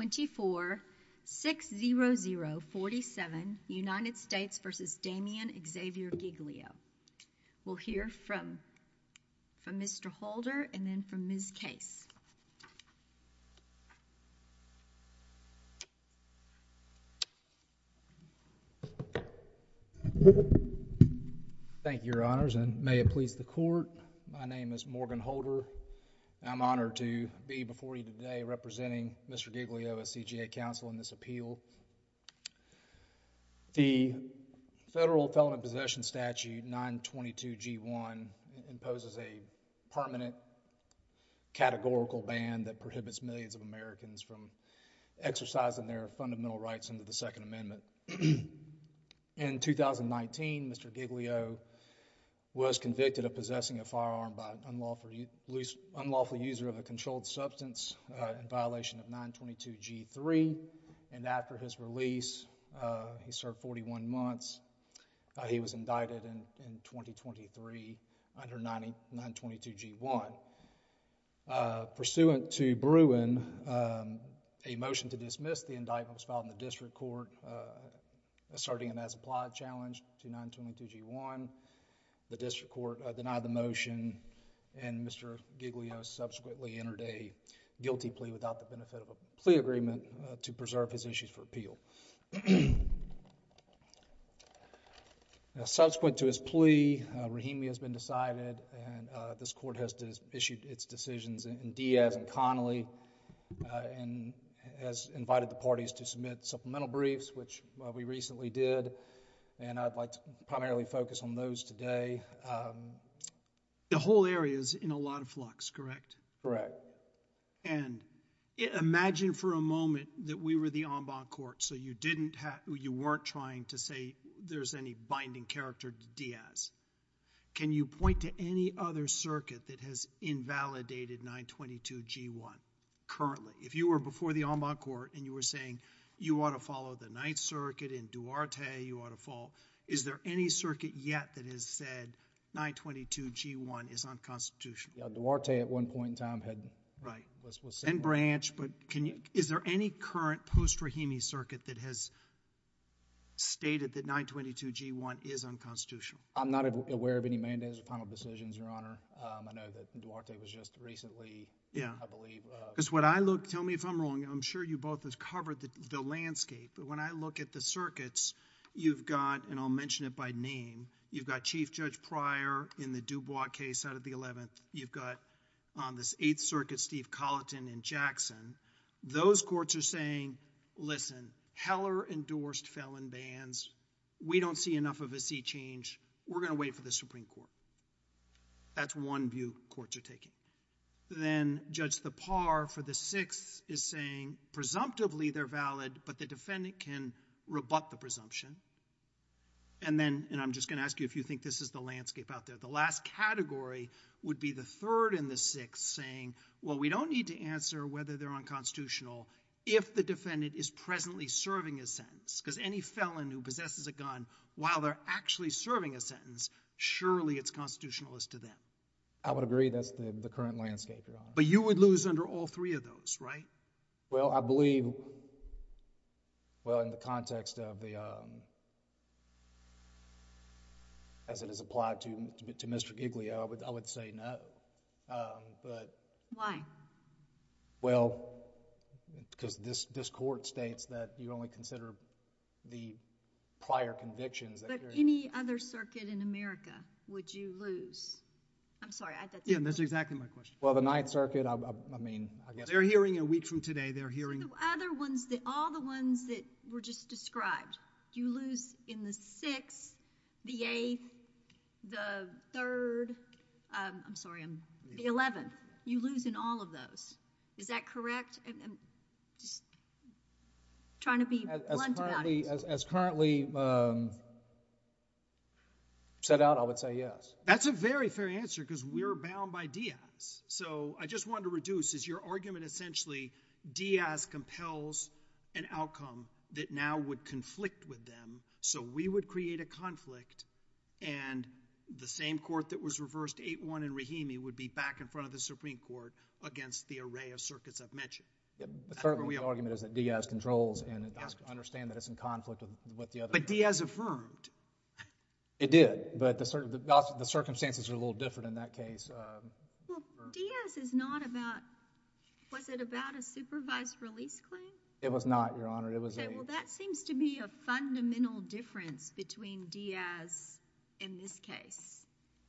24-600-47 United States v. Damien Xavier Giglio. We'll hear from Mr. Holder and then from Ms. Case. Thank you, your honors, and may it please the court, my name is Morgan Holder. I'm honored to be before you today representing Mr. Giglio, a CGA counsel, in this appeal. The Federal Felony Possession Statute 922G1 imposes a permanent categorical ban that prohibits millions of Americans from exercising their fundamental rights under the Second Amendment. In 2019, Mr. Giglio was convicted of possessing a firearm by an unlawful user of a controlled substance in violation of 922G3, and after his release, he served 41 months. He was indicted in 2023 under 922G1. Pursuant to Bruin, a motion to dismiss the indictment was filed in the district court asserting an as-applied challenge to 922G1. The district court denied the motion, and Mr. Giglio subsequently entered a guilty plea without the benefit of a plea agreement to preserve his issues for appeal. Subsequent to his plea, a rehemia has been decided and this court has issued its decisions in Diaz and Connolly and has invited the parties to submit supplemental briefs, which we recently did, and I'd like to primarily focus on those today. The whole area is in a lot of flux, correct? Correct. Imagine for a moment that we were the en banc court, so you weren't trying to say there's any binding character to Diaz. Can you point to any other circuit that has invalidated 922G1 currently? If you were before the en banc court and you were saying, you ought to follow the Ninth Circuit and Duarte, you ought to follow, is there any circuit yet that has said 922G1 is unconstitutional? Yeah, Duarte at one point in time had... And Branch, but is there any current post-rehemia circuit that has stated that 922G1 is unconstitutional? I'm not aware of any mandates or final decisions, Your Honor. I know that Duarte was just recently... I believe... Tell me if I'm wrong. I'm sure you both have covered the landscape, but when I look at the circuits, you've got, and I'll mention it by name, you've got Chief Judge Pryor in the Dubois case out of the 11th. You've got on this Eighth Circuit, Steve Colleton and Jackson. Those courts are saying, listen, Heller endorsed felon bans. We don't see enough of a seat change. We're going to wait for the Supreme Court. That's one view courts are taking. Then Judge Thapar for the Sixth is saying presumptively they're valid, but the defendant can rebut the presumption. And then, and I'm just going to ask you if you think this is the landscape out there, the last category would be the Third and the Sixth saying, well, we don't need to answer whether they're unconstitutional if the defendant is presently serving a sentence. Because any felon who possesses a gun while they're actually serving a sentence, surely it's constitutional as to them. I would agree that's the current landscape, Your Honor. But you would lose under all three of those, right? Well, I believe, well, in the context of the, as it is applied to Mr. Giglio, I would say no. But... Why? Well, because this court states that you only consider the prior convictions that... Any other circuit in America would you lose? I'm sorry, I thought that was the question. Yeah, that's exactly my question. Well, the Ninth Circuit, I mean, I guess... They're hearing a week from today. They're hearing... So the other ones, all the ones that were just described, you lose in the Sixth, the Eighth, the Third, I'm sorry, the Eleventh. You lose in all of those. Is that correct? I'm just trying to be blunt about it. As currently set out, I would say yes. That's a very fair answer, because we're bound by Diaz. So I just wanted to reduce, is your argument essentially Diaz compels an outcome that now would conflict with them, so we would create a conflict, and the same court that was reversed, 8-1 in Rahimi, would be back in front of the Supreme Court against the array of circuits I've mentioned? The third argument is that Diaz controls, and I understand that it's in conflict with the other... But Diaz affirmed. It did, but the circumstances are a little different in that case. Well, Diaz is not about... was it about a supervised release claim? It was not, Your Honor. It was a... Okay, well, that seems to be a fundamental difference between Diaz in this case.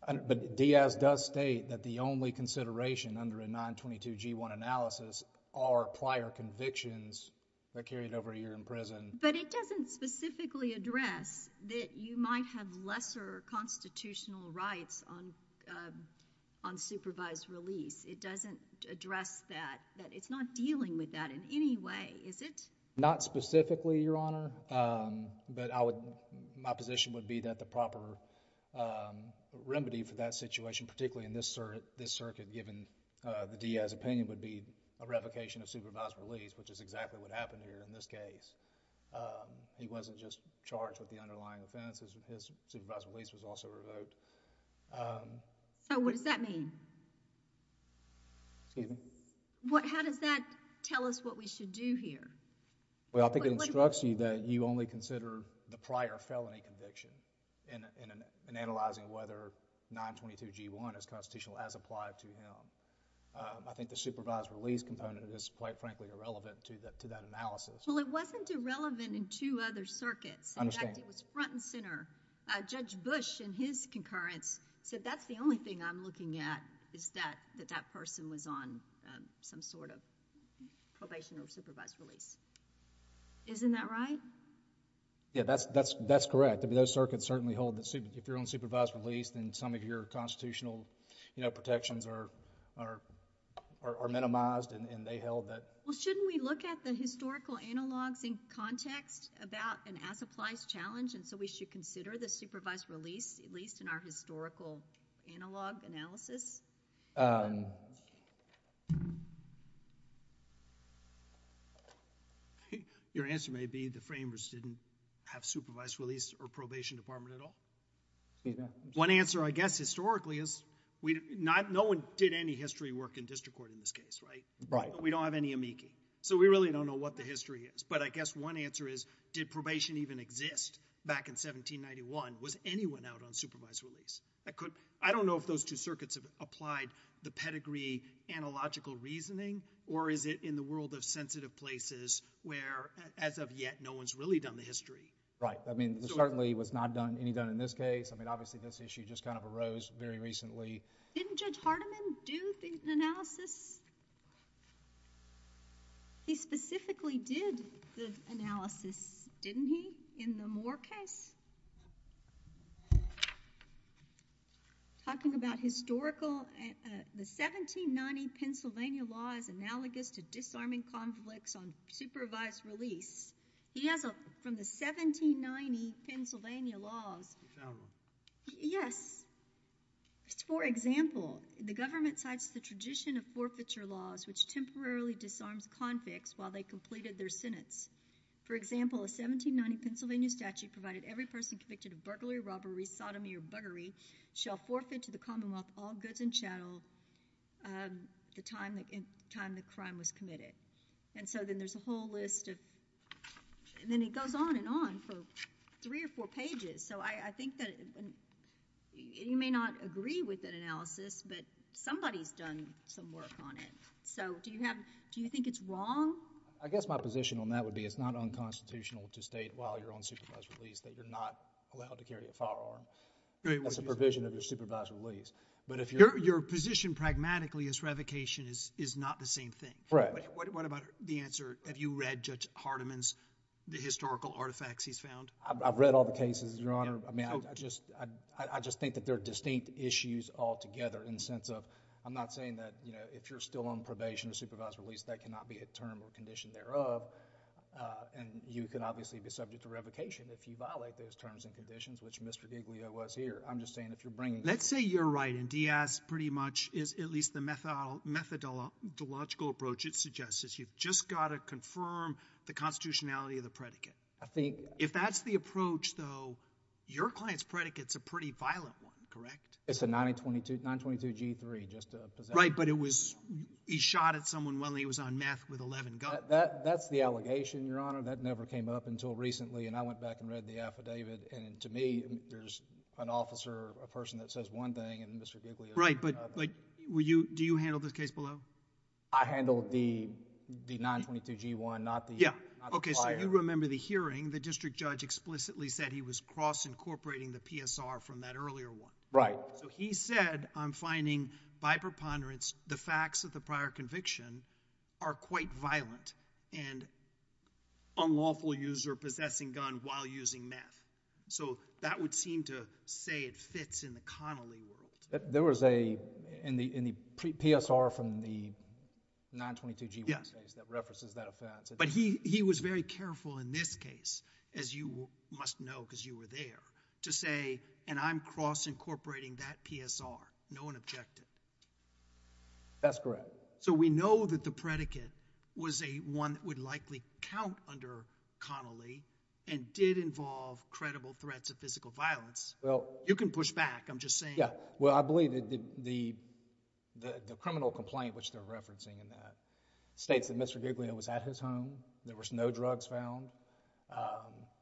But Diaz does state that the only consideration under a 922-G1 analysis are prior convictions that are carried over a year in prison. But it doesn't specifically address that you might have lesser constitutional rights on supervised release. It doesn't address that. It's not dealing with that in any way, is it? Not specifically, Your Honor, but I would... my position would be that the proper remedy for that situation, particularly in this circuit, given the Diaz opinion, would be a revocation of supervised release, which is exactly what happened here in this case. He wasn't just charged with the underlying offense. His supervised release was also revoked. So, what does that mean? Excuse me? How does that tell us what we should do here? Well, I think it instructs you that you only consider the prior felony conviction in analyzing whether 922-G1 is constitutional as applied to him. I think the supervised release component is quite frankly irrelevant to that analysis. Well, it wasn't irrelevant in two other circuits. I understand. In fact, it was front and center. Judge Bush in his concurrence said that's the only thing I'm looking at is that that person was on some sort of probation or supervised release. Isn't that right? Yeah, that's correct. Those circuits certainly hold that if you're on supervised release then some of your constitutional protections are minimized and they held that... Well, shouldn't we look at the historical analogs in context about an as-applies challenge and so we should consider the supervised release, at least in our historical analog analysis? Your answer may be the framers didn't have supervised release or probation department at all. One answer I guess historically is no one did any history work in district court in this case, right? Right. We don't have any amici. So we really don't know what the history is. But I guess one answer is did probation even exist back in 1791? Was anyone out on supervised release? I don't know if those two circuits have applied the pedigree analogical reasoning or is it in the world of sensitive places where as of yet no one's really done the history? Right. I mean there certainly was not any done in this case. I mean obviously this issue just kind of arose very recently. Didn't Judge Hardiman do the analysis? He specifically did the analysis, didn't he, in the Moore case? Talking about historical, the 1790 Pennsylvania law is analogous to disarming conflicts on supervised release. He has a, from the 1790 Pennsylvania laws. You found one? Yes. For example, the government cites the tradition of forfeiture laws which temporarily disarms conflicts while they completed their sentence. For example, a 1790 Pennsylvania statute provided every person convicted of burglary, robbery, sodomy, or buggery shall forfeit to the Commonwealth all goods and chattel the time the crime was committed. And so then there's a whole list of, and then it goes on and on for three or four pages. So I think that you may not agree with that analysis, but somebody's done some work on it. So do you have, do you think it's wrong? I guess my position on that would be it's not unconstitutional to state while you're on supervised release that you're not allowed to carry a firearm. That's a provision of your supervised release. But if you're— Your position pragmatically is revocation is not the same thing. Right. What about the answer, have you read Judge Hardiman's, the historical artifacts he's found? I've read all the cases, Your Honor. I mean, I just think that they're distinct issues altogether in the sense of, I'm not saying that, you know, if you're still on probation or supervised release, that cannot be a term or condition thereof. And you can obviously be subject to revocation if you violate those terms and conditions, which Mr. Giglio was here. I'm just saying if you're bringing— Let's say you're right, and Diaz pretty much is at least the methodological approach it suggests, is you've just got to confirm the constitutionality of the predicate. I think— If that's the approach, though, your client's predicate's a pretty violent one, correct? It's a 922 G3, just to— Right, but it was, he shot at someone while he was on meth with 11 guns. That's the allegation, Your Honor. That never came up until recently, and I went back and read the affidavit, and to me, there's an officer, a person that says one thing, and Mr. Giglio says another. Right, but do you handle the case below? I handle the 922 G1, not the prior— Okay, so you remember the hearing. The district judge explicitly said he was cross-incorporating the PSR from that earlier one. Right. So he said, I'm finding by preponderance the facts of the prior conviction are quite violent, and unlawful use or possessing gun while using meth. So that would seem to say it fits in the Connolly world. There was a, in the PSR from the 922 G1 case that references that offense. But he was very careful in this case, as you must know because you were there, to say, and I'm cross-incorporating that PSR. No one objected. That's correct. So we know that the predicate was one that would likely count under Connolly and did involve credible threats of physical violence. You can push back, I'm just saying. Yeah, well, I believe that the criminal complaint, which they're referencing in that, states that Mr. Giglio was at his home. There was no drugs found.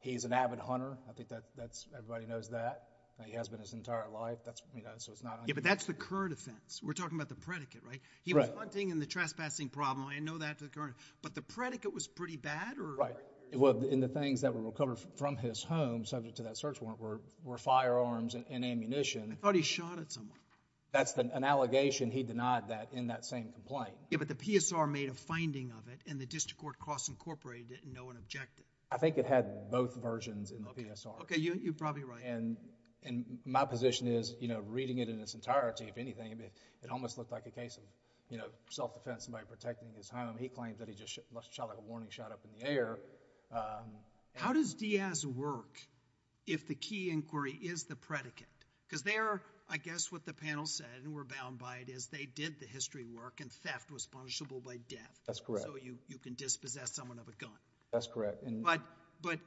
He's an avid hunter. I think that's, everybody knows that. He has been his entire life. Yeah, but that's the current offense. We're talking about the predicate, right? He was hunting and the trespassing problem. I know that to the current. But the predicate was pretty bad? Right. In the things that were recovered from his home, subject to that search warrant, were firearms and ammunition. I thought he shot at someone. That's an allegation. He denied that in that same complaint. Yeah, but the PSR made a finding of it, and the district court cross-incorporated it, and no one objected. I think it had both versions in the PSR. Okay, you're probably right. My position is, reading it in its entirety, if anything, it almost looked like a case of self-defense, somebody protecting his home. He claimed that he just shot a warning shot up in the air. How does Diaz work if the key inquiry is the predicate? Because there, I guess what the panel said, and we're bound by it, is they did the history work, and theft was punishable by death. That's correct. So you can dispossess someone of a gun. That's correct. But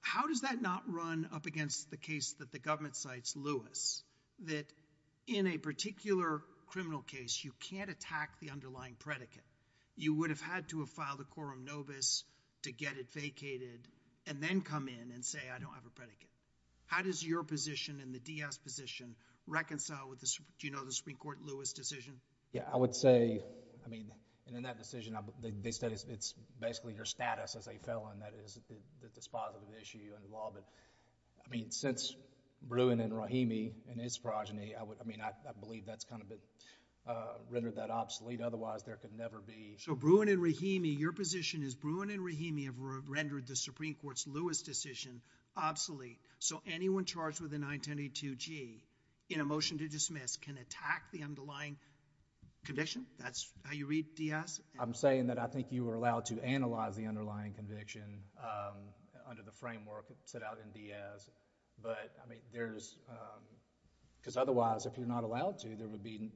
how does that not run up against the case that the government cites, Lewis, that in a particular criminal case, you can't attack the underlying predicate? You would have had to have filed a quorum nobis to get it vacated, and then come in and say, I don't have a predicate. How does your position and the Diaz position reconcile with, do you know, the Supreme Court Lewis decision? Yeah, I would say, I mean, in that decision, they said it's basically your status as a felon that is dispositive of the issue you're involved in. I mean, since Bruin and Rahimi and his progeny, I mean, I believe that's kind of rendered that obsolete. Otherwise, there could never be... So Bruin and Rahimi, your position is Bruin and Rahimi have rendered the Supreme Court's Lewis decision obsolete. So anyone charged with a 922G, in a motion to dismiss, can attack the underlying condition? That's how you read Diaz? I'm saying that I think you were allowed to analyze the underlying conviction under the framework set out in Diaz. But, I mean, there's... Because otherwise, if you're not allowed to, there would be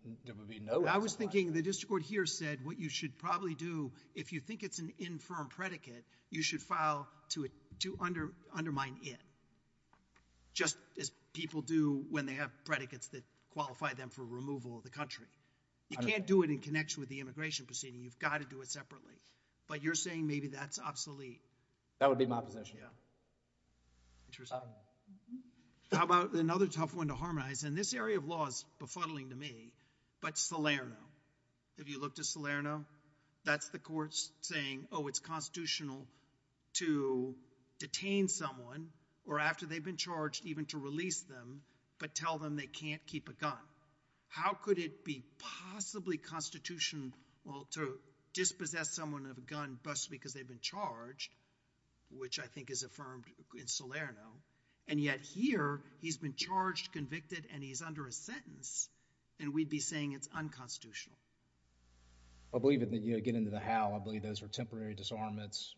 no... I was thinking the district court here said what you should probably do, if you think it's an infirm predicate, you should file to undermine it, just as people do when they have predicates that qualify them for removal of the country. You can't do it in connection with the immigration proceeding. You've got to do it separately. But you're saying maybe that's obsolete. That would be my position. Yeah. Interesting. How about another tough one to harmonize? And this area of law is befuddling to me, but Salerno. If you look to Salerno, that's the courts saying, oh, it's constitutional to detain someone or, after they've been charged, even to release them, but tell them they can't keep a gun. How could it be possibly constitutional to dispossess someone of a gun just because they've been charged, which I think is affirmed in Salerno, and yet here, he's been charged, convicted, and he's under a sentence, and we'd be saying it's unconstitutional. I believe that you get into the how. I believe those are temporary disarmaments.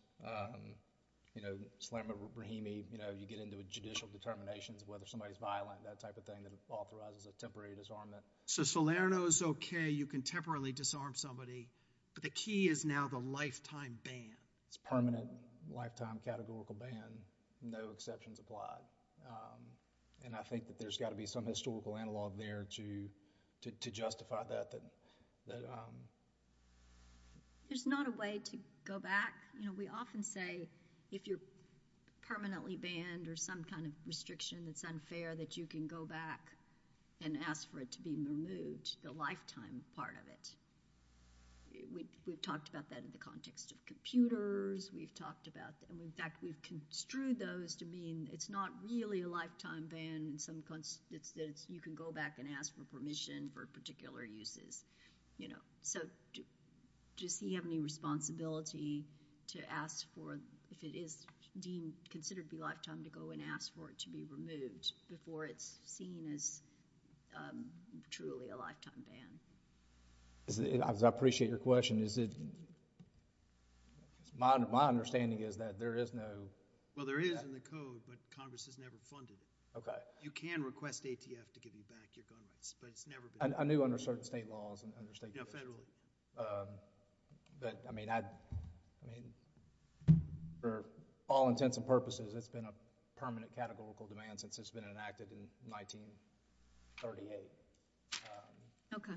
You know, Salerno-Brahimi, you know, you get into judicial determinations, whether somebody's violent, that type of thing, that authorizes a temporary disarmament. So Salerno's okay, you can temporarily disarm somebody, but the key is now the lifetime ban. It's permanent lifetime categorical ban, no exceptions applied, and I think that there's got to be some historical analog there to justify that. There's not a way to go back. You know, we often say if you're permanently banned or some kind of restriction that's unfair that you can go back and ask for it to be removed, the lifetime part of it. We've talked about that in the context of computers. We've talked about that. In fact, we've construed those to mean it's not really a lifetime ban. You can go back and ask for permission for particular uses, you know. So does he have any responsibility to ask for, if it is deemed considered to be lifetime, to go and ask for it to be removed before it's seen as truly a lifetime ban? I appreciate your question. My understanding is that there is no... Well, there is in the code, but Congress has never funded it. Okay. You can request ATF to give you back your gun rights, but it's never been funded. I knew under certain state laws. Yeah, federal. But I mean, for all intents and purposes, it's been a permanent categorical demand since it's been enacted in 1938. Okay.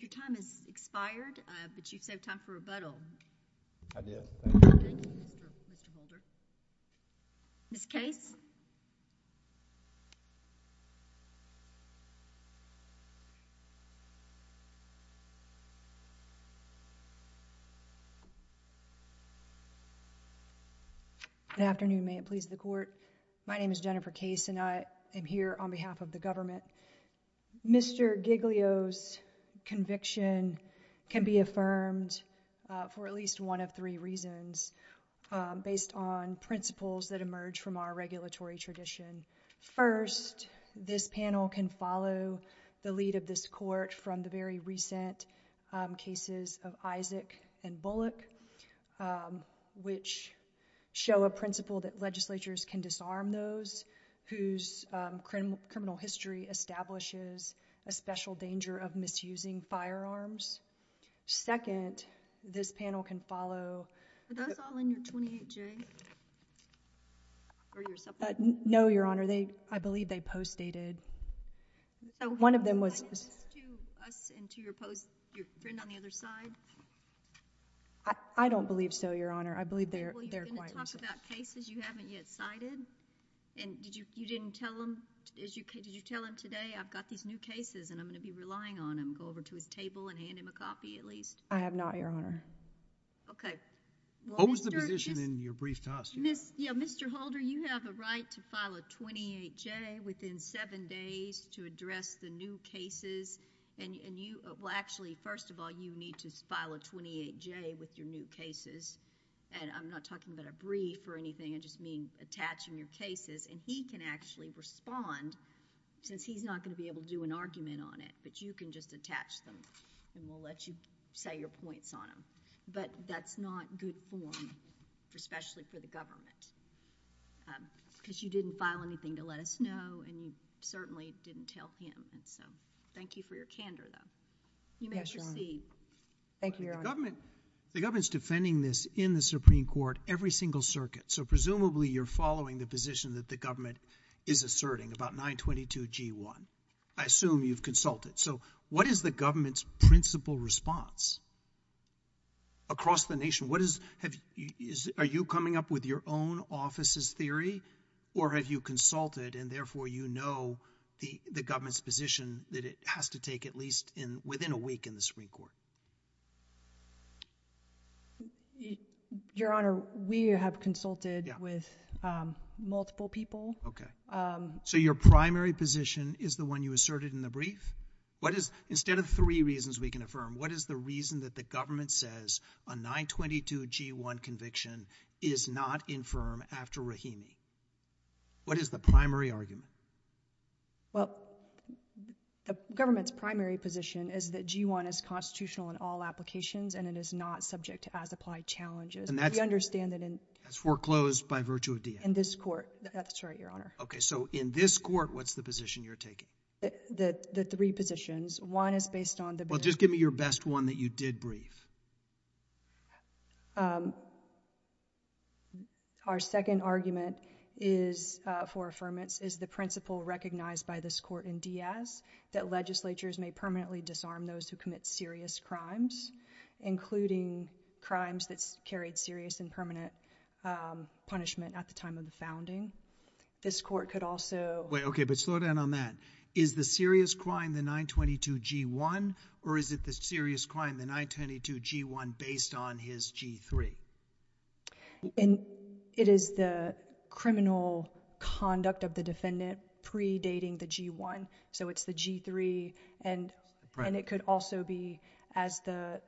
Your time has expired, but you saved time for rebuttal. I did. Thank you. Thank you, Mr. Holder. Ms. Case? Good afternoon. May it please the Court? My name is Jennifer Case, and I am here on behalf of the government. Mr. Giglio's conviction can be affirmed for at least one of three reasons based on principles that emerge from our regulatory tradition. First, this panel can follow the lead of this Court from the very recent cases of Isaac and Bullock, which show a principle that legislatures can disarm those whose criminal history establishes a special danger of misusing firearms. Second, this panel can follow... Are those all in your 28J? No, Your Honor. I believe they post-dated. One of them was... Is this to us and to your friend on the other side? I don't believe so, Your Honor. I believe they're quite... Well, you're going to talk about cases you haven't yet cited? And did you tell him today, I've got these new cases and I'm going to be relying on them, and go over to his table and hand him a copy at least? I have not, Your Honor. Okay. What was the position in your brief to us? Mr. Holder, you have a right to file a 28J within seven days to address the new cases, and you... Well, actually, first of all, you need to file a 28J with your new cases, and I'm not talking about a brief or anything. I just mean attaching your cases, and he can actually respond since he's not going to be able to do an argument on it, but you can just attach them and we'll let you say your points on them. But that's not good form, especially for the government, because you didn't file anything to let us know, and you certainly didn't tell him. So thank you for your candor, though. You may proceed. Thank you, Your Honor. The government is defending this in the Supreme Court every single circuit, so presumably you're following the position that the government is asserting about 922G1. I assume you've consulted. So what is the government's principal response across the nation? What is... Are you coming up with your own office's theory, or have you consulted, and therefore you know the government's position that it has to take at least within a week in the Supreme Court? Your Honor, we have consulted with multiple people. Okay. So your primary position is the one you asserted in the brief? Instead of three reasons we can affirm, what is the reason that the government says a 922G1 conviction is not infirm after Rahimi? What is the primary argument? Well, the government's primary position is that G1 is constitutional in all applications and it is not subject to as-applied challenges. We understand that in... That's foreclosed by virtue of DA. In this court. That's right, Your Honor. Okay. So in this court, what's the position you're taking? The three positions. One is based on the... Well, just give me your best one that you did brief. Our second argument for affirmance is the principle recognized by this court in Diaz that legislatures may permanently disarm those who commit serious crimes, including crimes that's carried serious and permanent punishment at the time of the founding. This court could also... Wait, okay, but slow down on that. Is the serious crime the 922G1 or is it the serious crime, the 922G1, based on his G3? It is the criminal conduct of the defendant predating the G1, so it's the G3. And it could also be as the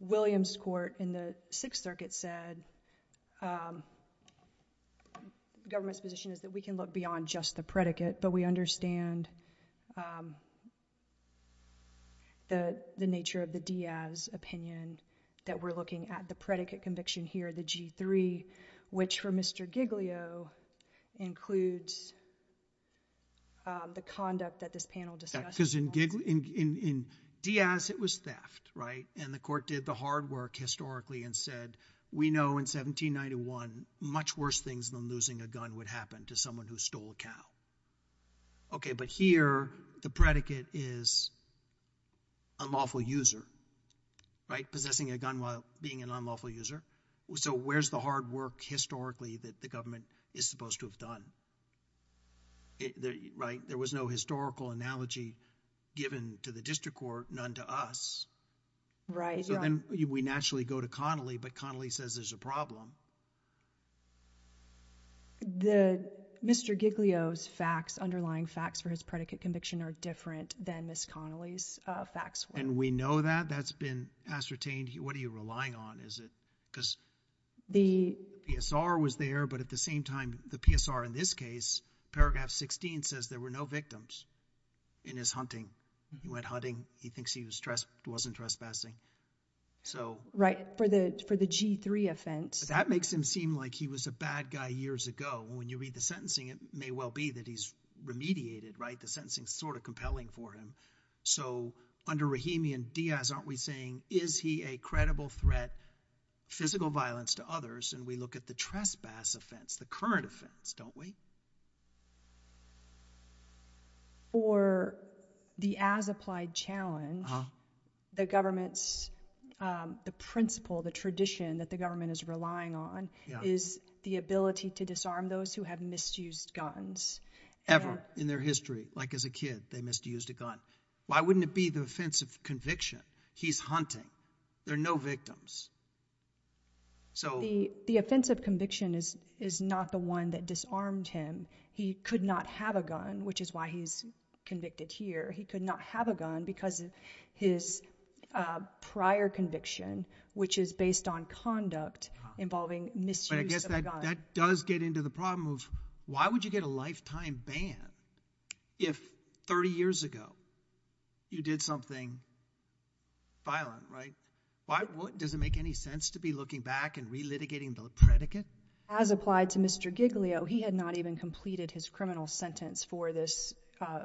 Williams court in the Sixth Circuit said, the government's position is that we can look beyond just the predicate, but we understand the nature of the Diaz opinion that we're looking at the predicate conviction here, the G3, which for Mr. Giglio includes the conduct that this panel discussed. Because in Diaz, it was theft, right? And the court did the hard work historically and said, we know in 1791 much worse things than losing a gun would happen to someone who stole a cow. Okay, but here the predicate is unlawful user, right? Possessing a gun while being an unlawful user. So where's the hard work historically that the government is supposed to have done? There was no historical analogy given to the district court, none to us, right? So then we naturally go to Connolly, but Connolly says there's a problem. The Mr. Giglio's facts, underlying facts for his predicate conviction are different than Ms. Connolly's facts. And we know that that's been ascertained. What are you relying on? Is it because the PSR was there, but at the same time, the PSR in this case, paragraph 16 says there were no victims in his hunting. He went hunting. He thinks he wasn't trespassing. Right, for the G3 offense. That makes him seem like he was a bad guy years ago. When you read the sentencing, it may well be that he's remediated, right? The sentencing's sort of compelling for him. So under Rahimi and Diaz, aren't we saying, is he a credible threat, physical violence to others? And we look at the trespass offense, the current offense, don't we? For the as-applied challenge, the government's, the principle, the tradition that the government is relying on is the ability to disarm those who have misused guns. Ever in their history. Like as a kid, they misused a gun. Why wouldn't it be the offensive conviction? He's hunting. There are no victims. The offensive conviction is not the one that disarmed him. He could not have a gun, which is why he's convicted here. He could not have a gun because of his prior conviction, which is based on conduct involving misuse of a gun. But I guess that does get into the problem of why would you get a lifetime ban if 30 years ago you did something violent, right? Does it make any sense to be looking back and relitigating the predicate? As applied to Mr. Giglio, he had not even completed his criminal sentence for this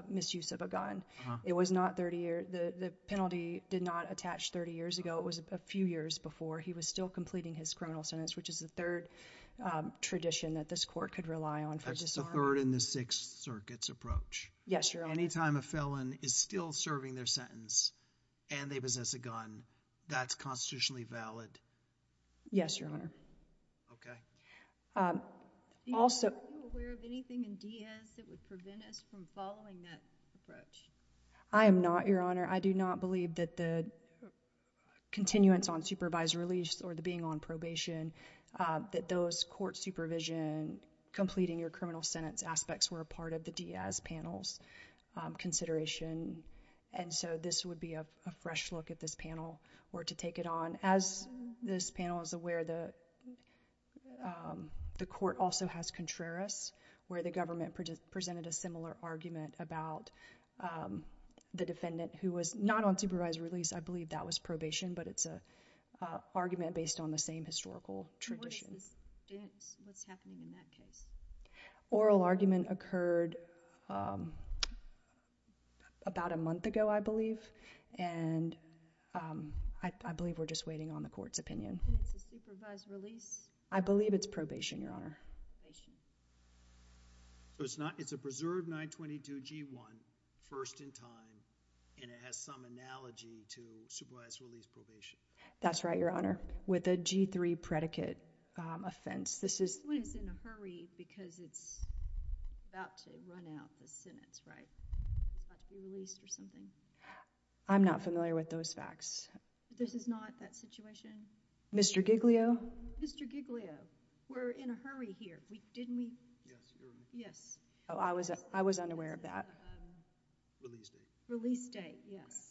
misuse of a gun. It was not 30 years. The penalty did not attach 30 years ago. It was a few years before. He was still completing his criminal sentence, which is the third tradition that this court could rely on for disarming. That's the third in the Sixth Circuit's approach. Yes, Your Honor. Any time a felon is still serving their sentence and they possess a gun, that's constitutionally valid? Yes, Your Honor. Okay. Are you aware of anything in Diaz that would prevent us from following that approach? I am not, Your Honor. I do not believe that the continuance on supervised release or the being on probation, that those court supervision, completing your criminal sentence aspects, were a part of the Diaz panel's consideration. And so this would be a fresh look if this panel were to take it on. As this panel is aware, the court also has Contreras, where the government presented a similar argument about the defendant who was not on supervised release. I believe that was probation, but it's an argument based on the same historical tradition. What's happening in that case? Oral argument occurred about a month ago, I believe, and I believe we're just waiting on the court's opinion. And it's a supervised release? I believe it's probation, Your Honor. Probation. So it's a preserved 922G1, first in time, and it has some analogy to supervised release probation? That's right, Your Honor, with a G3 predicate offense. This one is in a hurry because it's about to run out the sentence, right? It's about to be released or something. I'm not familiar with those facts. This is not that situation? Mr. Giglio? Mr. Giglio, we're in a hurry here. Didn't we? Yes, Your Honor. Yes. Oh, I was unaware of that. Release date. Release date, yes.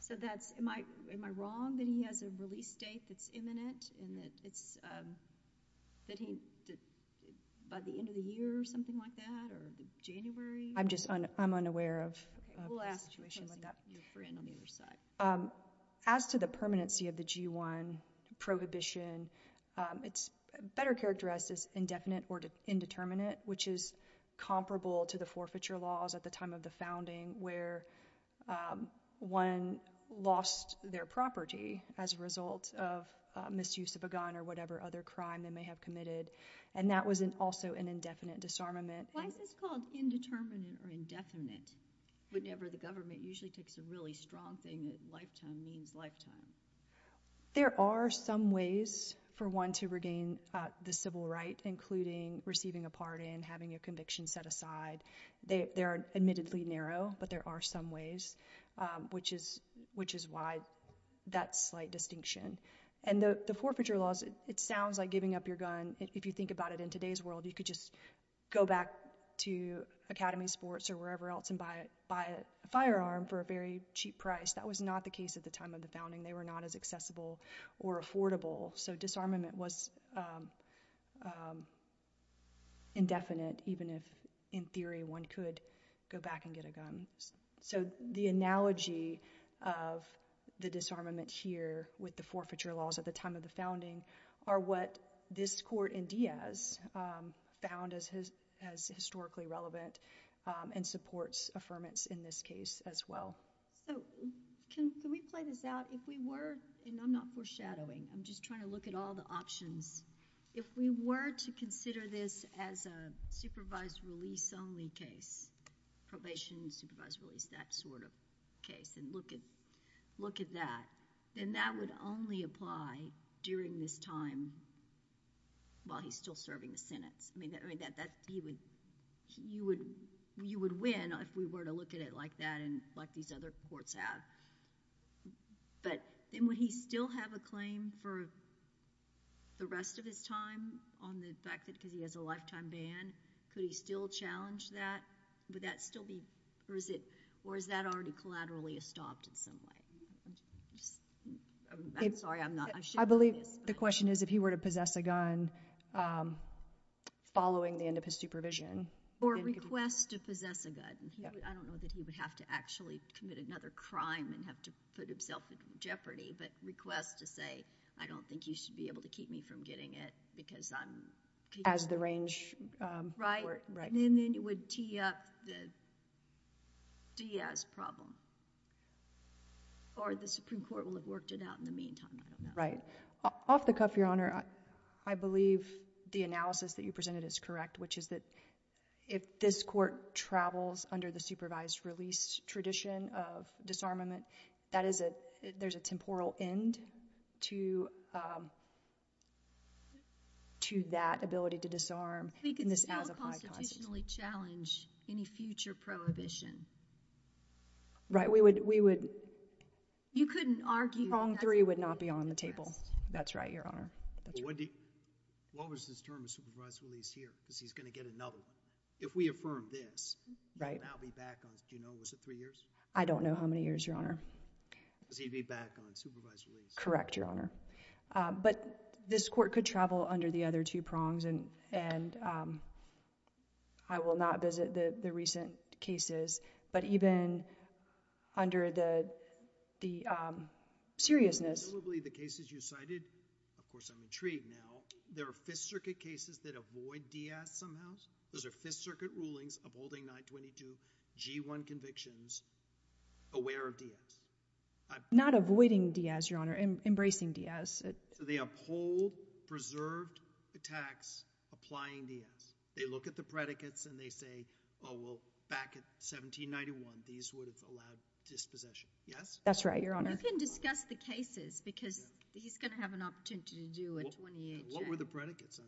So am I wrong that he has a release date that's imminent and that it's by the end of the year or something like that or January? I'm unaware of a situation like that. We'll ask your friend on the other side. As to the permanency of the G1 prohibition, it's better characterized as indefinite or indeterminate, which is comparable to the forfeiture laws at the time of the founding where one lost their property as a result of misuse of a gun or whatever other crime they may have committed, and that was also an indefinite disarmament. Why is this called indeterminate or indefinite whenever the government usually takes a really strong thing that lifetime means lifetime? There are some ways for one to regain the civil right, including receiving a pardon, having a conviction set aside. They are admittedly narrow, but there are some ways, which is why that slight distinction. And the forfeiture laws, it sounds like giving up your gun. If you think about it in today's world, you could just go back to Academy Sports or wherever else and buy a firearm for a very cheap price. That was not the case at the time of the founding. They were not as accessible or affordable, so disarmament was indefinite, even if in theory one could go back and get a gun. The analogy of the disarmament here with the forfeiture laws at the time of the founding are what this court in Diaz found as historically relevant and supports affirmance in this case as well. Can we play this out? If we were, and I'm not foreshadowing, I'm just trying to look at all the options. If we were to consider this as a supervised release only case, probation, supervised release, that sort of case, and look at that, then that would only apply during this time while he's still serving the Senate. You would win if we were to look at it like that and like these other courts have. But then would he still have a claim for the rest of his time on the fact that because he has a lifetime ban, could he still challenge that? Would that still be... Or is that already collaterally estopped in some way? I'm sorry, I'm not... I believe the question is if he were to possess a gun following the end of his supervision. Or request to possess a gun. I don't know that he would have to actually commit another crime and have to put himself in jeopardy, but request to say, I don't think you should be able to keep me from getting it because I'm... As the range... Right. And then it would tee up the Diaz problem. Or the Supreme Court would have worked it out in the meantime. Right. Off the cuff, Your Honor, I believe the analysis that you presented is correct, which is that if this court travels under the supervised release tradition of disarmament, there's a temporal end to that ability to disarm in this as-applied process. We could still constitutionally challenge any future prohibition. Right. We would... You couldn't argue... Wrong three would not be on the table. That's right, Your Honor. What was his term of supervised release here? Because he's going to get another one. If we affirm this... Right. I'll be back on... Do you know, was it three years? I don't know how many years, Your Honor. Because he'd be back on supervised release. Correct, Your Honor. But this court could travel under the other two prongs and I will not visit the recent cases, but even under the seriousness... Probably the cases you cited, of course I'm intrigued now, there are Fifth Circuit cases that avoid Diaz somehow. Those are Fifth Circuit rulings upholding 922G1 convictions aware of Diaz. Not avoiding Diaz, Your Honor. Embracing Diaz. So they uphold preserved attacks applying Diaz. They look at the predicates and they say, oh, well, back in 1791 these would have allowed dispossession. Yes? That's right, Your Honor. You can discuss the cases because he's going to have an opportunity to do a 28 check. What were the predicates?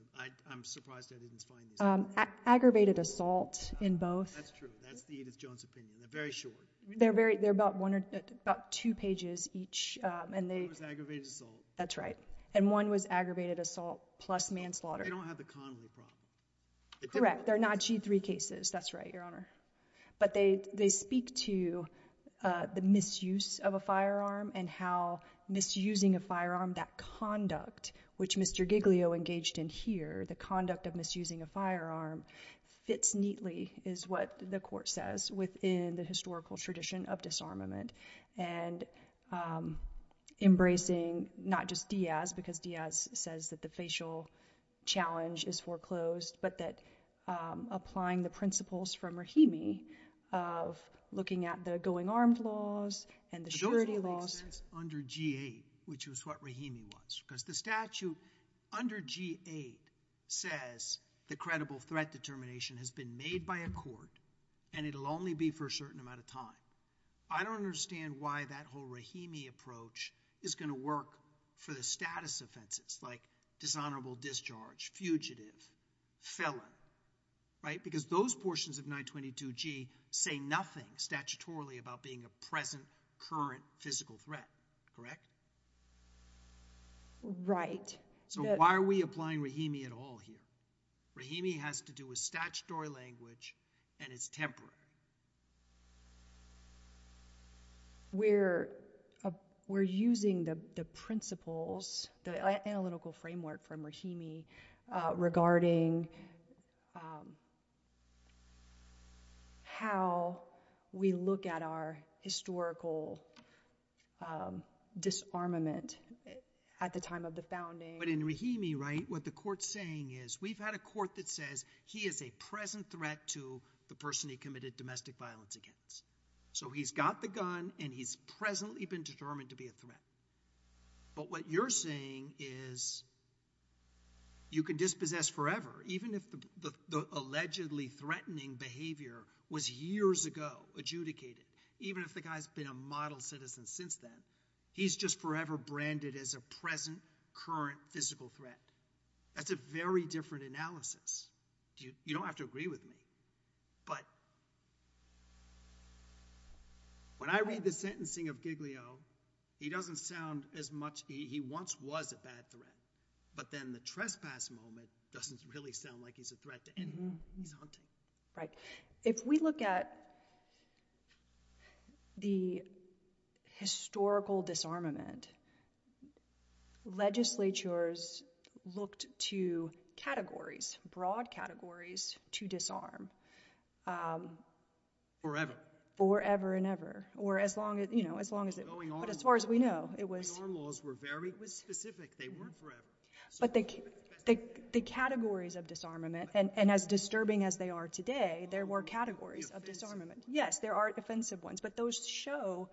I'm surprised I didn't find this. Aggravated assault in both. That's true. That's the Edith Jones opinion. They're very short. They're about two pages each. One was aggravated assault. That's right. And one was aggravated assault plus manslaughter. They don't have the convoy problem. Correct. They're not G3 cases. That's right, Your Honor. But they speak to the misuse of a firearm and how misusing a firearm, that conduct, which Mr. Giglio engaged in here, the conduct of misusing a firearm, fits neatly is what the court says within the historical tradition of disarmament and embracing not just Diaz, because Diaz says that the facial challenge is foreclosed, but that applying the principles from Rahimi of looking at the going armed laws and the security laws. It also makes sense under G8, which is what Rahimi wants, because the statute under G8 says the credible threat determination has been made by a court and it'll only be for a certain amount of time. I don't understand why that whole Rahimi approach is going to work for the status offenses like dishonorable discharge, fugitive, felon, right? Because those portions of 922G say nothing statutorily about being a present, current physical threat, correct? Right. So why are we applying Rahimi at all here? Rahimi has to do with statutory language and it's temporary. We're using the principles, the analytical framework from Rahimi regarding how we look at our historical disarmament at the time of the founding. But in Rahimi, right, what the court's saying is we've had a court that says he is a present threat to the person he committed domestic violence against. So he's got the gun and he's presently been determined to be a threat. But what you're saying is you can dispossess forever, even if the allegedly threatening behavior was years ago adjudicated, even if the guy's been a model citizen since then. He's just forever branded as a present, current physical threat. That's a very different analysis. You don't have to agree with me. But when I read the sentencing of Giglio, he doesn't sound as much... He once was a bad threat, but then the trespass moment doesn't really sound like he's a threat to anyone he's hunting. If we look at the historical disarmament, legislatures looked to categories, broad categories to disarm. Forever. Forever and ever. But as far as we know, it was... The armed laws were very specific. They weren't forever. But the categories of disarmament, and as disturbing as they are today, there were categories of disarmament. Yes, there are offensive ones, but those show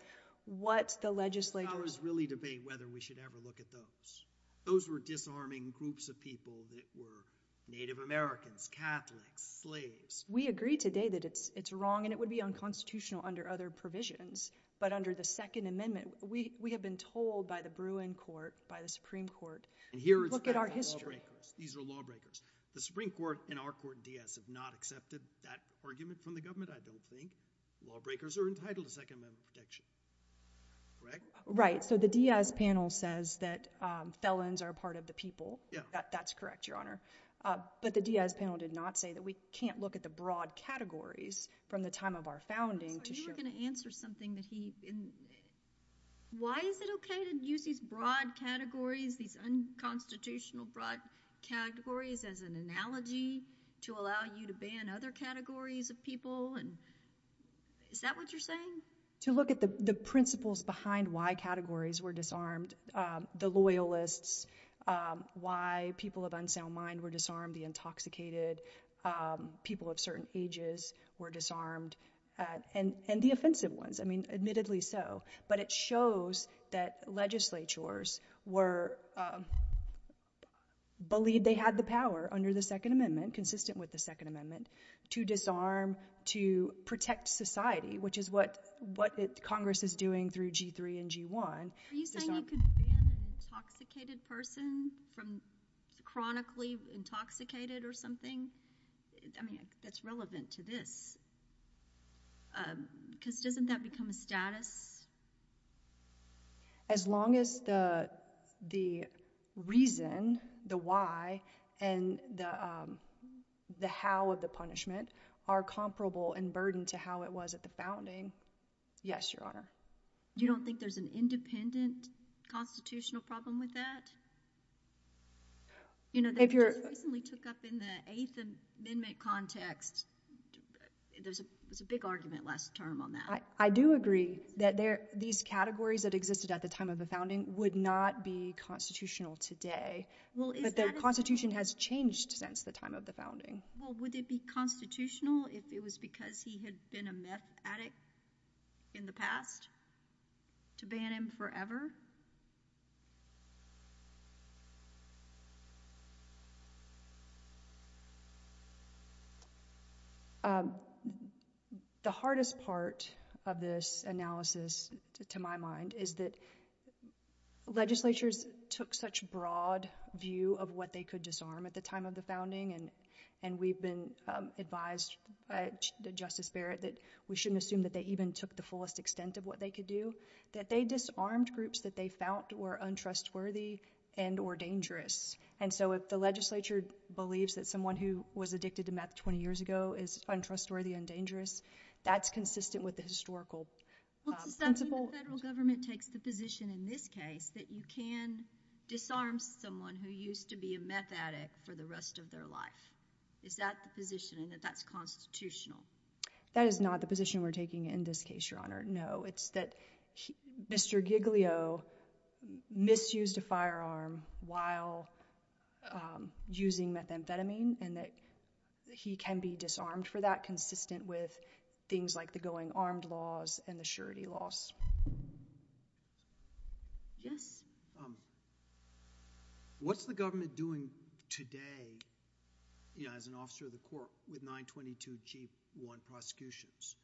what the legislature... We can't always really debate whether we should ever look at those. Those were disarming groups of people that were Native Americans, Catholics, slaves. We agree today that it's wrong, and it would be unconstitutional under other provisions. But under the Second Amendment, we have been told by the Bruin Court, by the Supreme Court, look at our history. These are lawbreakers. The Supreme Court and our court in Diaz have not accepted that argument from the government, I don't think. Lawbreakers are entitled to Second Amendment protection. Correct? Right, so the Diaz panel says that felons are a part of the people. Yeah. That's correct, Your Honor. But the Diaz panel did not say that we can't look at the broad categories from the time of our founding to show... You were going to answer something that he... Why is it okay to use these broad categories, these unconstitutional broad categories as an analogy to allow you to ban other categories of people? Is that what you're saying? To look at the principles behind why categories were disarmed, the loyalists, why people of unsound mind were disarmed, the intoxicated, people of certain ages were disarmed, and the offensive ones. I mean, admittedly so. But it shows that legislatures were... believed they had the power under the Second Amendment, consistent with the Second Amendment, to disarm, to protect society, which is what Congress is doing through G3 and G1. Are you saying you could ban an intoxicated person from chronically intoxicated or something? I mean, that's relevant to this. Because doesn't that become a status? As long as the reason, the why, and the how of the punishment are comparable in burden to how it was at the bounding, yes, Your Honor. You don't think there's an independent constitutional problem with that? You know, they recently took up in the Eighth Amendment context. There was a big argument last term on that. I do agree that these categories that existed at the time of the founding would not be constitutional today. But the Constitution has changed since the time of the founding. Well, would it be constitutional if it was because he had been a meth addict in the past to ban him forever? The hardest part of this analysis, to my mind, is that legislatures took such broad view of what they could disarm at the time of the founding. And we've been advised by Justice Barrett that we shouldn't assume that they even took the fullest extent of what they could do. That they disarmed groups that were not that they found were untrustworthy and or dangerous. And so if the legislature believes that someone who was addicted to meth 20 years ago is untrustworthy and dangerous, that's consistent with the historical principle. Does that mean the federal government takes the position in this case that you can disarm someone who used to be a meth addict for the rest of their life? Is that the position and that that's constitutional? That is not the position we're taking in this case, Your Honor, no. It's that Mr. Giglio misused a firearm while using methamphetamine and that he can be disarmed for that consistent with things like the going armed laws and the surety laws. Yes? What's the government doing today as an officer of the court with 922G1 prosecutions?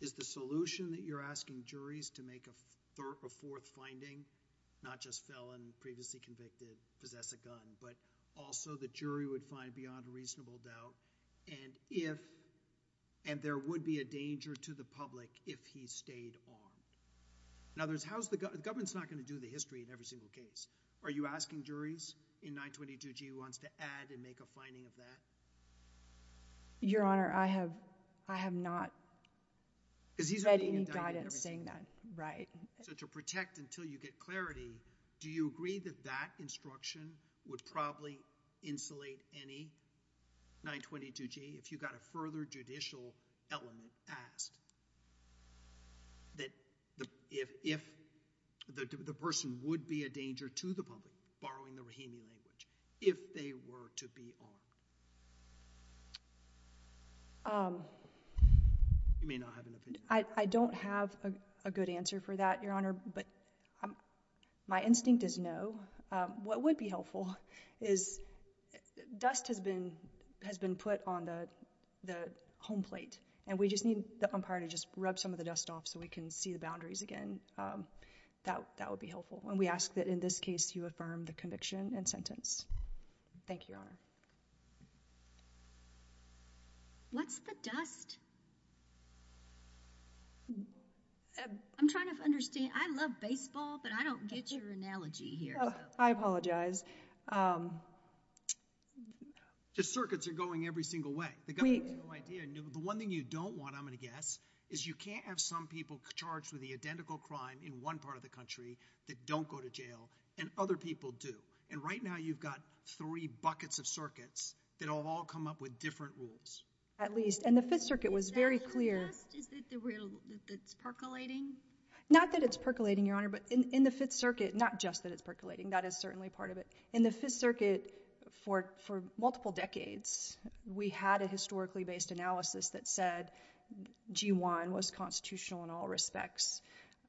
Is the solution that you're asking juries to make a fourth finding, not just felon, previously convicted, possess a gun, but also the jury would find beyond reasonable doubt and if, and there would be a danger to the public if he stayed armed. In other words, the government's not gonna do the history in every single case. Are you asking juries in 922G1 to add and make a finding of that? Your Honor, I have not read any guidance saying that. So to protect until you get clarity, do you agree that that instruction would probably insulate any 922G if you got a further judicial element asked? That if the person would be a danger to the public, borrowing the Rahimi language, if they were to be armed? You may not have an opinion. I don't have a good answer for that, but my instinct is no. What would be helpful is dust has been put on the home plate and we just need the umpire to just rub some of the dust off so we can see the boundaries again. That would be helpful. And we ask that in this case you affirm the conviction and sentence. Thank you, Your Honor. What's the dust? I'm trying to understand. I love baseball, but I don't get your analogy here. I apologize. The circuits are going every single way. The government has no idea. The one thing you don't want, I'm going to guess, is you can't have some people charged with the identical crime in one part of the country that don't go to jail, and other people do. And right now you've got three buckets of circuits that have all come up with different rules. At least. And the Fifth Circuit was very clear. Is that the dust? Is that the real, that's percolating? Not that it's percolating, Your Honor, but in the Fifth Circuit, not just that it's percolating, that is certainly part of it. In the Fifth Circuit, for multiple decades, we had a historically based analysis that said G1 was constitutional in all respects.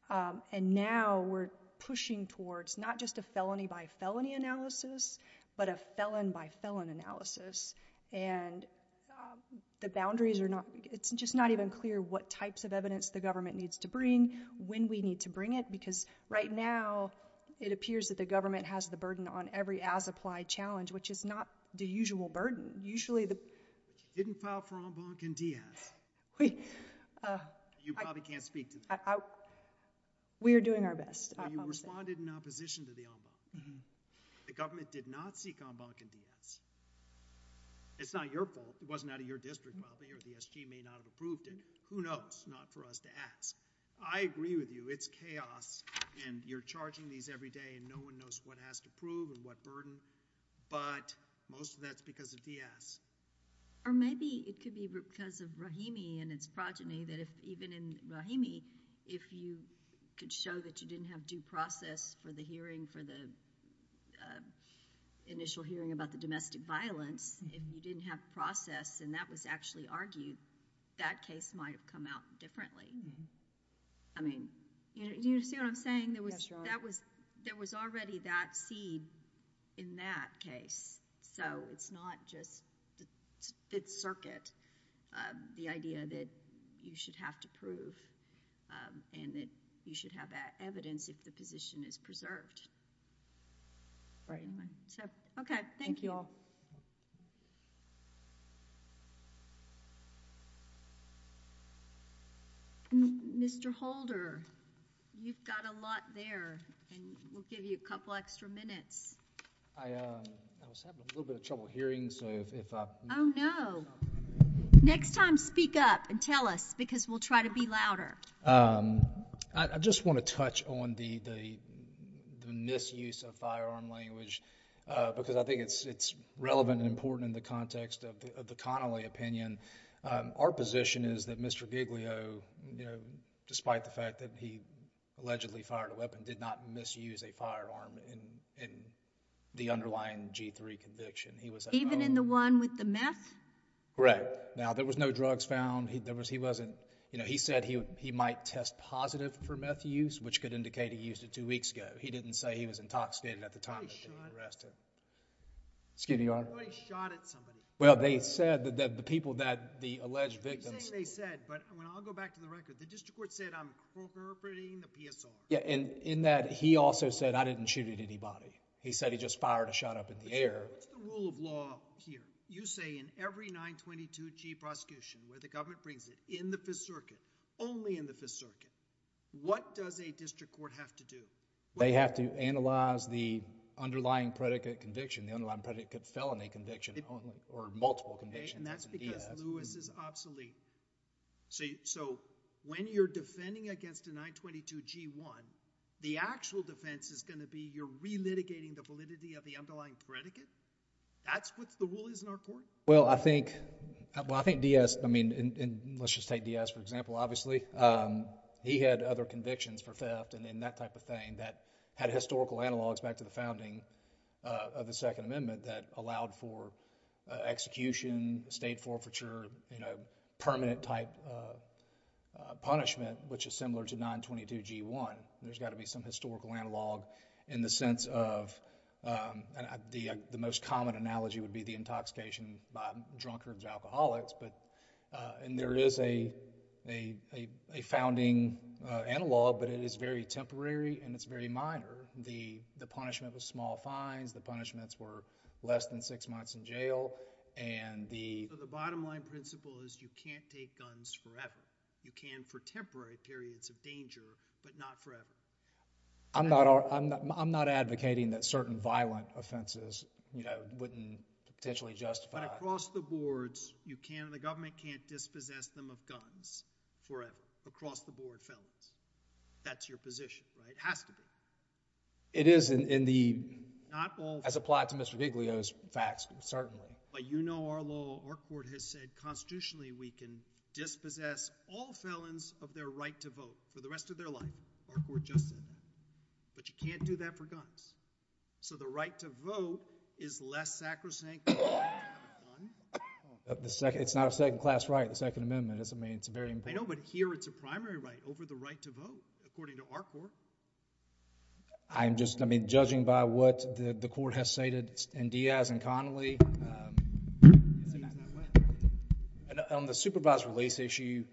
And now we're pushing towards not just a felony by felony analysis, but a felon by felon analysis. And the boundaries are not, it's just not even clear what types of evidence the government needs to bring, when we need to bring it, because right now it appears that the government has the burden on every as-applied challenge, which is not the usual burden. Usually the... You didn't file for en banc in Diaz. You probably can't speak to that. We are doing our best. You responded in opposition to the en banc. The government did not seek en banc in Diaz. It's not your fault. It wasn't out of your district, probably, or the SG may not have approved it. Who knows? Not for us to ask. I agree with you. It's chaos, and you're charging these every day, and no one knows what has to prove and what burden, but most of that's because of Diaz. Or maybe it could be because of Rahimi and its progeny that even in Rahimi, if you could show that you didn't have due process for the hearing for the initial hearing about the domestic violence, if you didn't have process and that was actually argued, that case might have come out differently. I mean, do you see what I'm saying? Yes, Your Honor. There was already that seed in that case, so it's not just the circuit, the idea that you should have to prove and that you should have that evidence if the position is preserved. Okay, thank you. Thank you all. Mr. Holder, you've got a lot there, and we'll give you a couple extra minutes. I was having a little bit of trouble hearing, so if I... Oh, no. Next time, speak up and tell us, because we'll try to be louder. I just want to touch on the misuse of firearm language, because I think it's relevant and important in the context of the Connolly opinion. Our position is that Mr. Giglio, despite the fact that he allegedly fired a weapon, did not misuse a firearm in the underlying G3 conviction. Even in the one with the meth? Correct. Now, there was no drugs found. He said he might test positive for meth use, which could indicate he used it two weeks ago. He didn't say he was intoxicated at the time that he arrested. Excuse me, Your Honor. Somebody shot at somebody. Well, they said that the people, the alleged victims... I'm saying they said, but I'll go back to the record. The district court said, I'm incorporating the PSR. In that, he also said, I didn't shoot at anybody. He said he just fired a shot up in the air. What's the rule of law here? You say in every 922G prosecution where the government brings it, in the Fifth Circuit, only in the Fifth Circuit, what does a district court have to do? They have to analyze the underlying predicate conviction, the underlying predicate felony conviction, or multiple convictions. And that's because Lewis is obsolete. So, when you're defending against a 922G1, the actual defense is going to be you're re-litigating the validity of the underlying predicate? That's what the rule is in our court? Well, I think, I think Diaz, I mean, let's just take Diaz for example, obviously, he had other convictions for theft and that type of thing that had historical analogs back to the founding of the Second Amendment that allowed for execution, state forfeiture, you know, permanent type punishment, which is similar to 922G1. There's got to be some historical analog in the sense of, the most common analogy would be the intoxication by drunkards or alcoholics, but, and there is a, a founding analog, but it is very temporary and it's very minor. The punishment was small fines, the punishments were less than six months in jail, and the... So, the bottom line principle is you can't take guns forever. You can for temporary periods of danger, but not forever. I'm not, I'm not advocating that certain violent offenses, you know, wouldn't potentially justify... But across the boards, you can't, the government can't dispossess them of guns forever, across the board felons. That's your position, right? It has to be. It is in the... Not all... As applied to Mr. Biglio's facts, certainly. But you know our law, our court has said constitutionally we can dispossess all felons of their right to vote for the rest of their life. Our court just said that. But you can't do that for guns. So, the right to vote is less sacrosanct than having a gun? It's not a second class right, the second amendment. I mean, it's very important. I know, but here it's a primary right over the right to vote, according to our court. I'm just, I mean, judging by what the court has stated, and Diaz and Connolly, on the supervised release issue,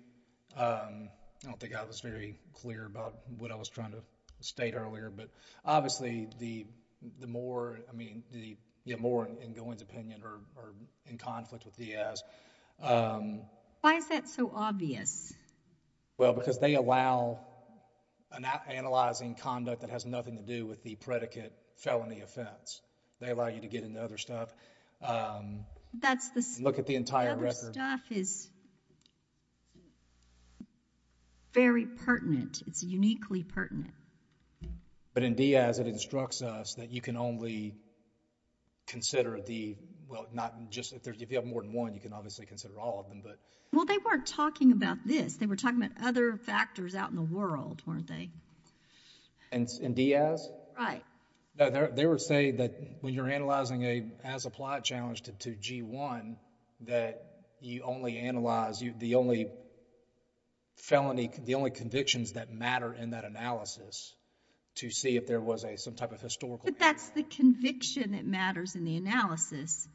I don't think I was very clear about what I was trying to state earlier, but obviously the more, I mean, the more in Gowen's opinion or in conflict with Diaz... Why is that so obvious? Well, because they allow analyzing conduct that has nothing to do with the predicate felony offense. They allow you to get into other stuff. That's the... Look at the entire record. Other stuff is... very pertinent. It's uniquely pertinent. But in Diaz, it instructs us that you can only consider the, well, not just, if you have more than one, you can obviously consider all of them, but... Well, they weren't talking about this. They were talking about other factors out in the world, weren't they? In Diaz? Right. They would say that when you're analyzing as applied challenge to G1, that you only analyze, the only felony, the only convictions that matter in that analysis to see if there was some type of historical... But that's the conviction that matters in the analysis,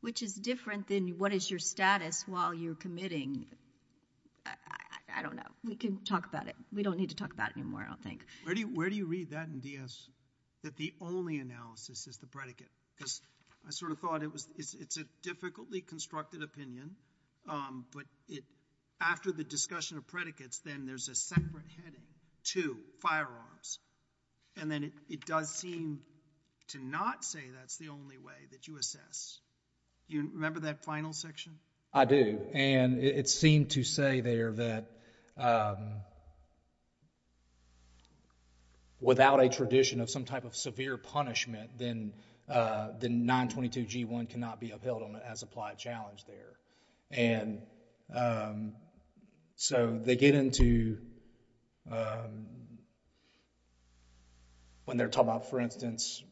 which is different than what is your status while you're committing. I don't know. We can talk about it. We don't need to talk about it anymore, I don't think. Where do you read that in Diaz, that the only analysis is the predicate? Because I sort of thought it's a difficultly constructed opinion, but after the discussion of predicates, then there's a separate heading to firearms, and then it does seem to not say that's the only way that you assess. Do you remember that final section? I do, and it seemed to say there that without a tradition of some type of severe punishment, then 922 G1 cannot be upheld as applied challenge there. And so they get into... When they're talking about, for instance,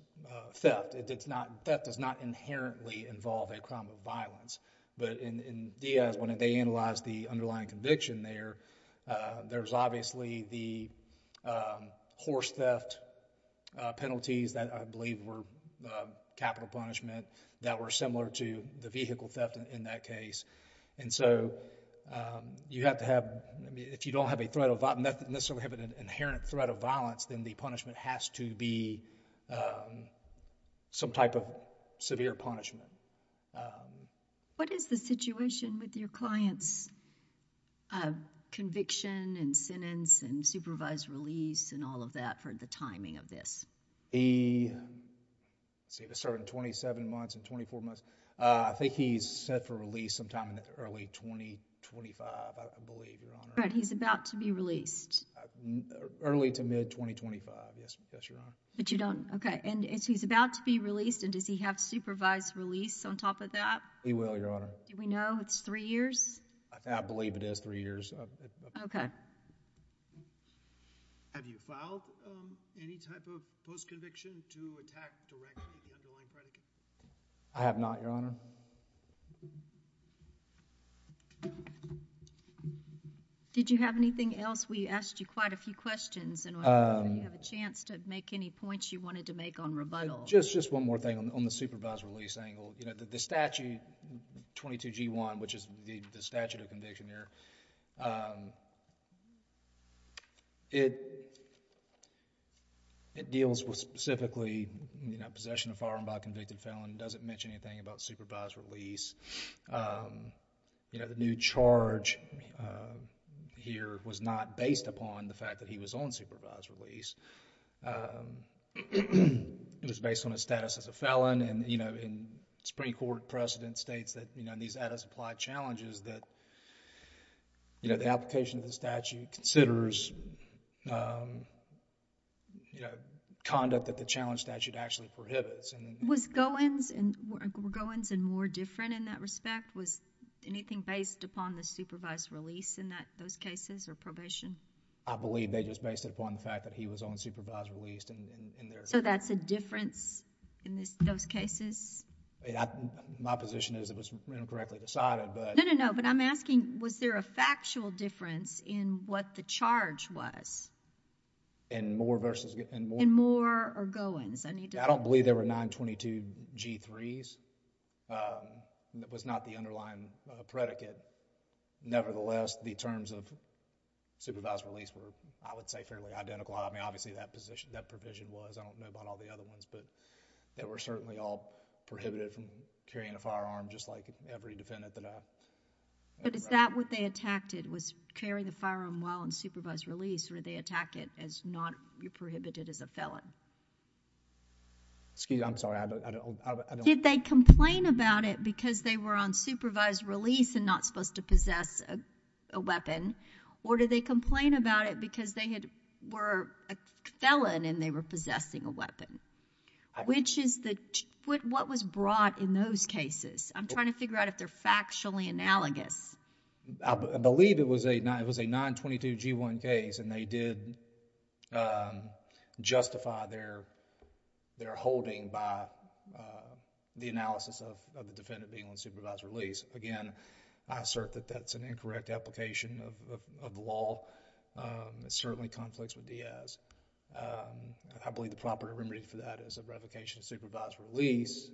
theft, theft does not inherently involve a crime of violence, but in Diaz, when they analyze the underlying conviction there, there's obviously the horse theft penalties that I believe were capital punishment that were similar to the vehicle theft in that case. And so you have to have... If you don't necessarily have an inherent threat of violence, then the punishment has to be some type of severe punishment. What is the situation with your client's conviction and sentence and supervised release and all of that for the timing of this? He... Let's see, this started in 27 months, in 24 months. I think he's set for release sometime in early 2025, I believe, Your Honor. Right, he's about to be released. Early to mid 2025, yes, Your Honor. But you don't... Okay, and he's about to be released and does he have supervised release on top of that? He will, Your Honor. Do we know it's three years? I believe it is three years. Okay. Have you filed any type of post-conviction to attack directly the underlying predicate? I have not, Your Honor. Did you have anything else? We asked you quite a few questions and I don't know if you have a chance to make any points you wanted to make on rebuttal. Just one more thing on the supervised release angle. The statute, 22G1, which is the statute of conviction there, it... It deals with specifically possession of firearm by a convicted felon. It doesn't mention anything about supervised release. The new charge here was not based upon the fact that he was on supervised release. It was based on his status as a felon and the Supreme Court precedent states that in these out-of-supply challenges that the application of the statute considers conduct that the challenge statute actually prohibits. Was Goins and Moore different in that respect? Was anything based upon the supervised release in those cases or probation? I believe they just based it upon the fact that he was on supervised release. So that's a difference in those cases? My position is it was incorrectly decided but... No, no, no, but I'm asking was there a factual difference in what the charge was? In Moore versus... In Moore or Goins? I need to... I don't believe there were 922 G3s. That was not the underlying predicate. Nevertheless, the terms of supervised release were, I would say, fairly identical. I mean, obviously, that provision was. I don't know about all the other ones, but they were certainly all prohibited from carrying a firearm just like every defendant that I... But is that what they attacked it, was carry the firearm while on supervised release or did they attack it because it was not prohibited as a felon? Excuse me, I'm sorry. I don't... Did they complain about it because they were on supervised release and not supposed to possess a weapon or did they complain about it because they were a felon and they were possessing a weapon? Which is the... What was brought in those cases? I'm trying to figure out if they're factually analogous. I believe it was a 922 G1 case and they did justify their holding by the analysis of the defendant being on supervised release. Again, I assert that that's an incorrect application of the law. It certainly conflicts with Diaz. I believe the proper remedy for that is a revocation of supervised release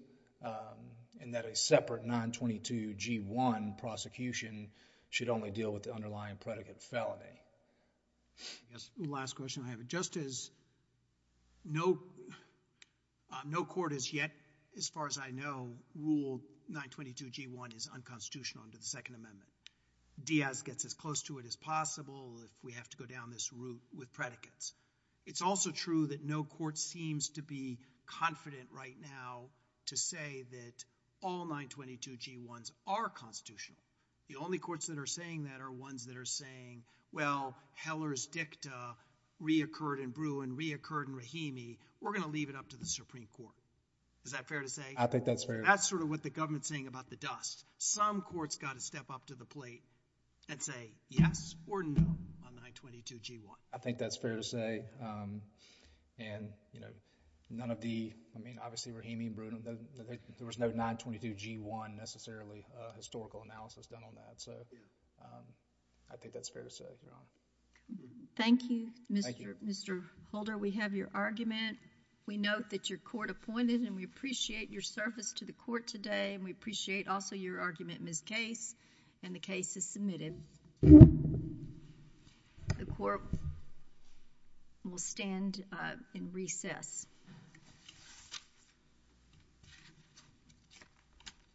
and that a separate 922 G1 prosecution should only deal with the underlying predicate felony. Last question I have. Just as no court has yet, as far as I know, ruled 922 G1 is unconstitutional under the Second Amendment, Diaz gets as close to it as possible if we have to go down this route with predicates. It's also true that no court seems to be confident right now to say that all 922 G1s are constitutional. The only courts that are saying that are ones that are saying, well, Heller's dicta reoccurred in Bruin, reoccurred in Rahimi, we're going to leave it up to the Supreme Court. Is that fair to say? I think that's fair. That's sort of what the government's saying about the dust. Some courts got to step up to the plate and say yes or no on 922 G1. I think that's fair to say. Obviously Rahimi and Bruin, there was no 922 G1 necessarily historical analysis done on that. I think that's fair to say. Thank you, Mr. Holder. We have your argument. We note that your court appointed and we appreciate your service to the court today and we appreciate also your argument in this case and the case is submitted. The court will stand in recess.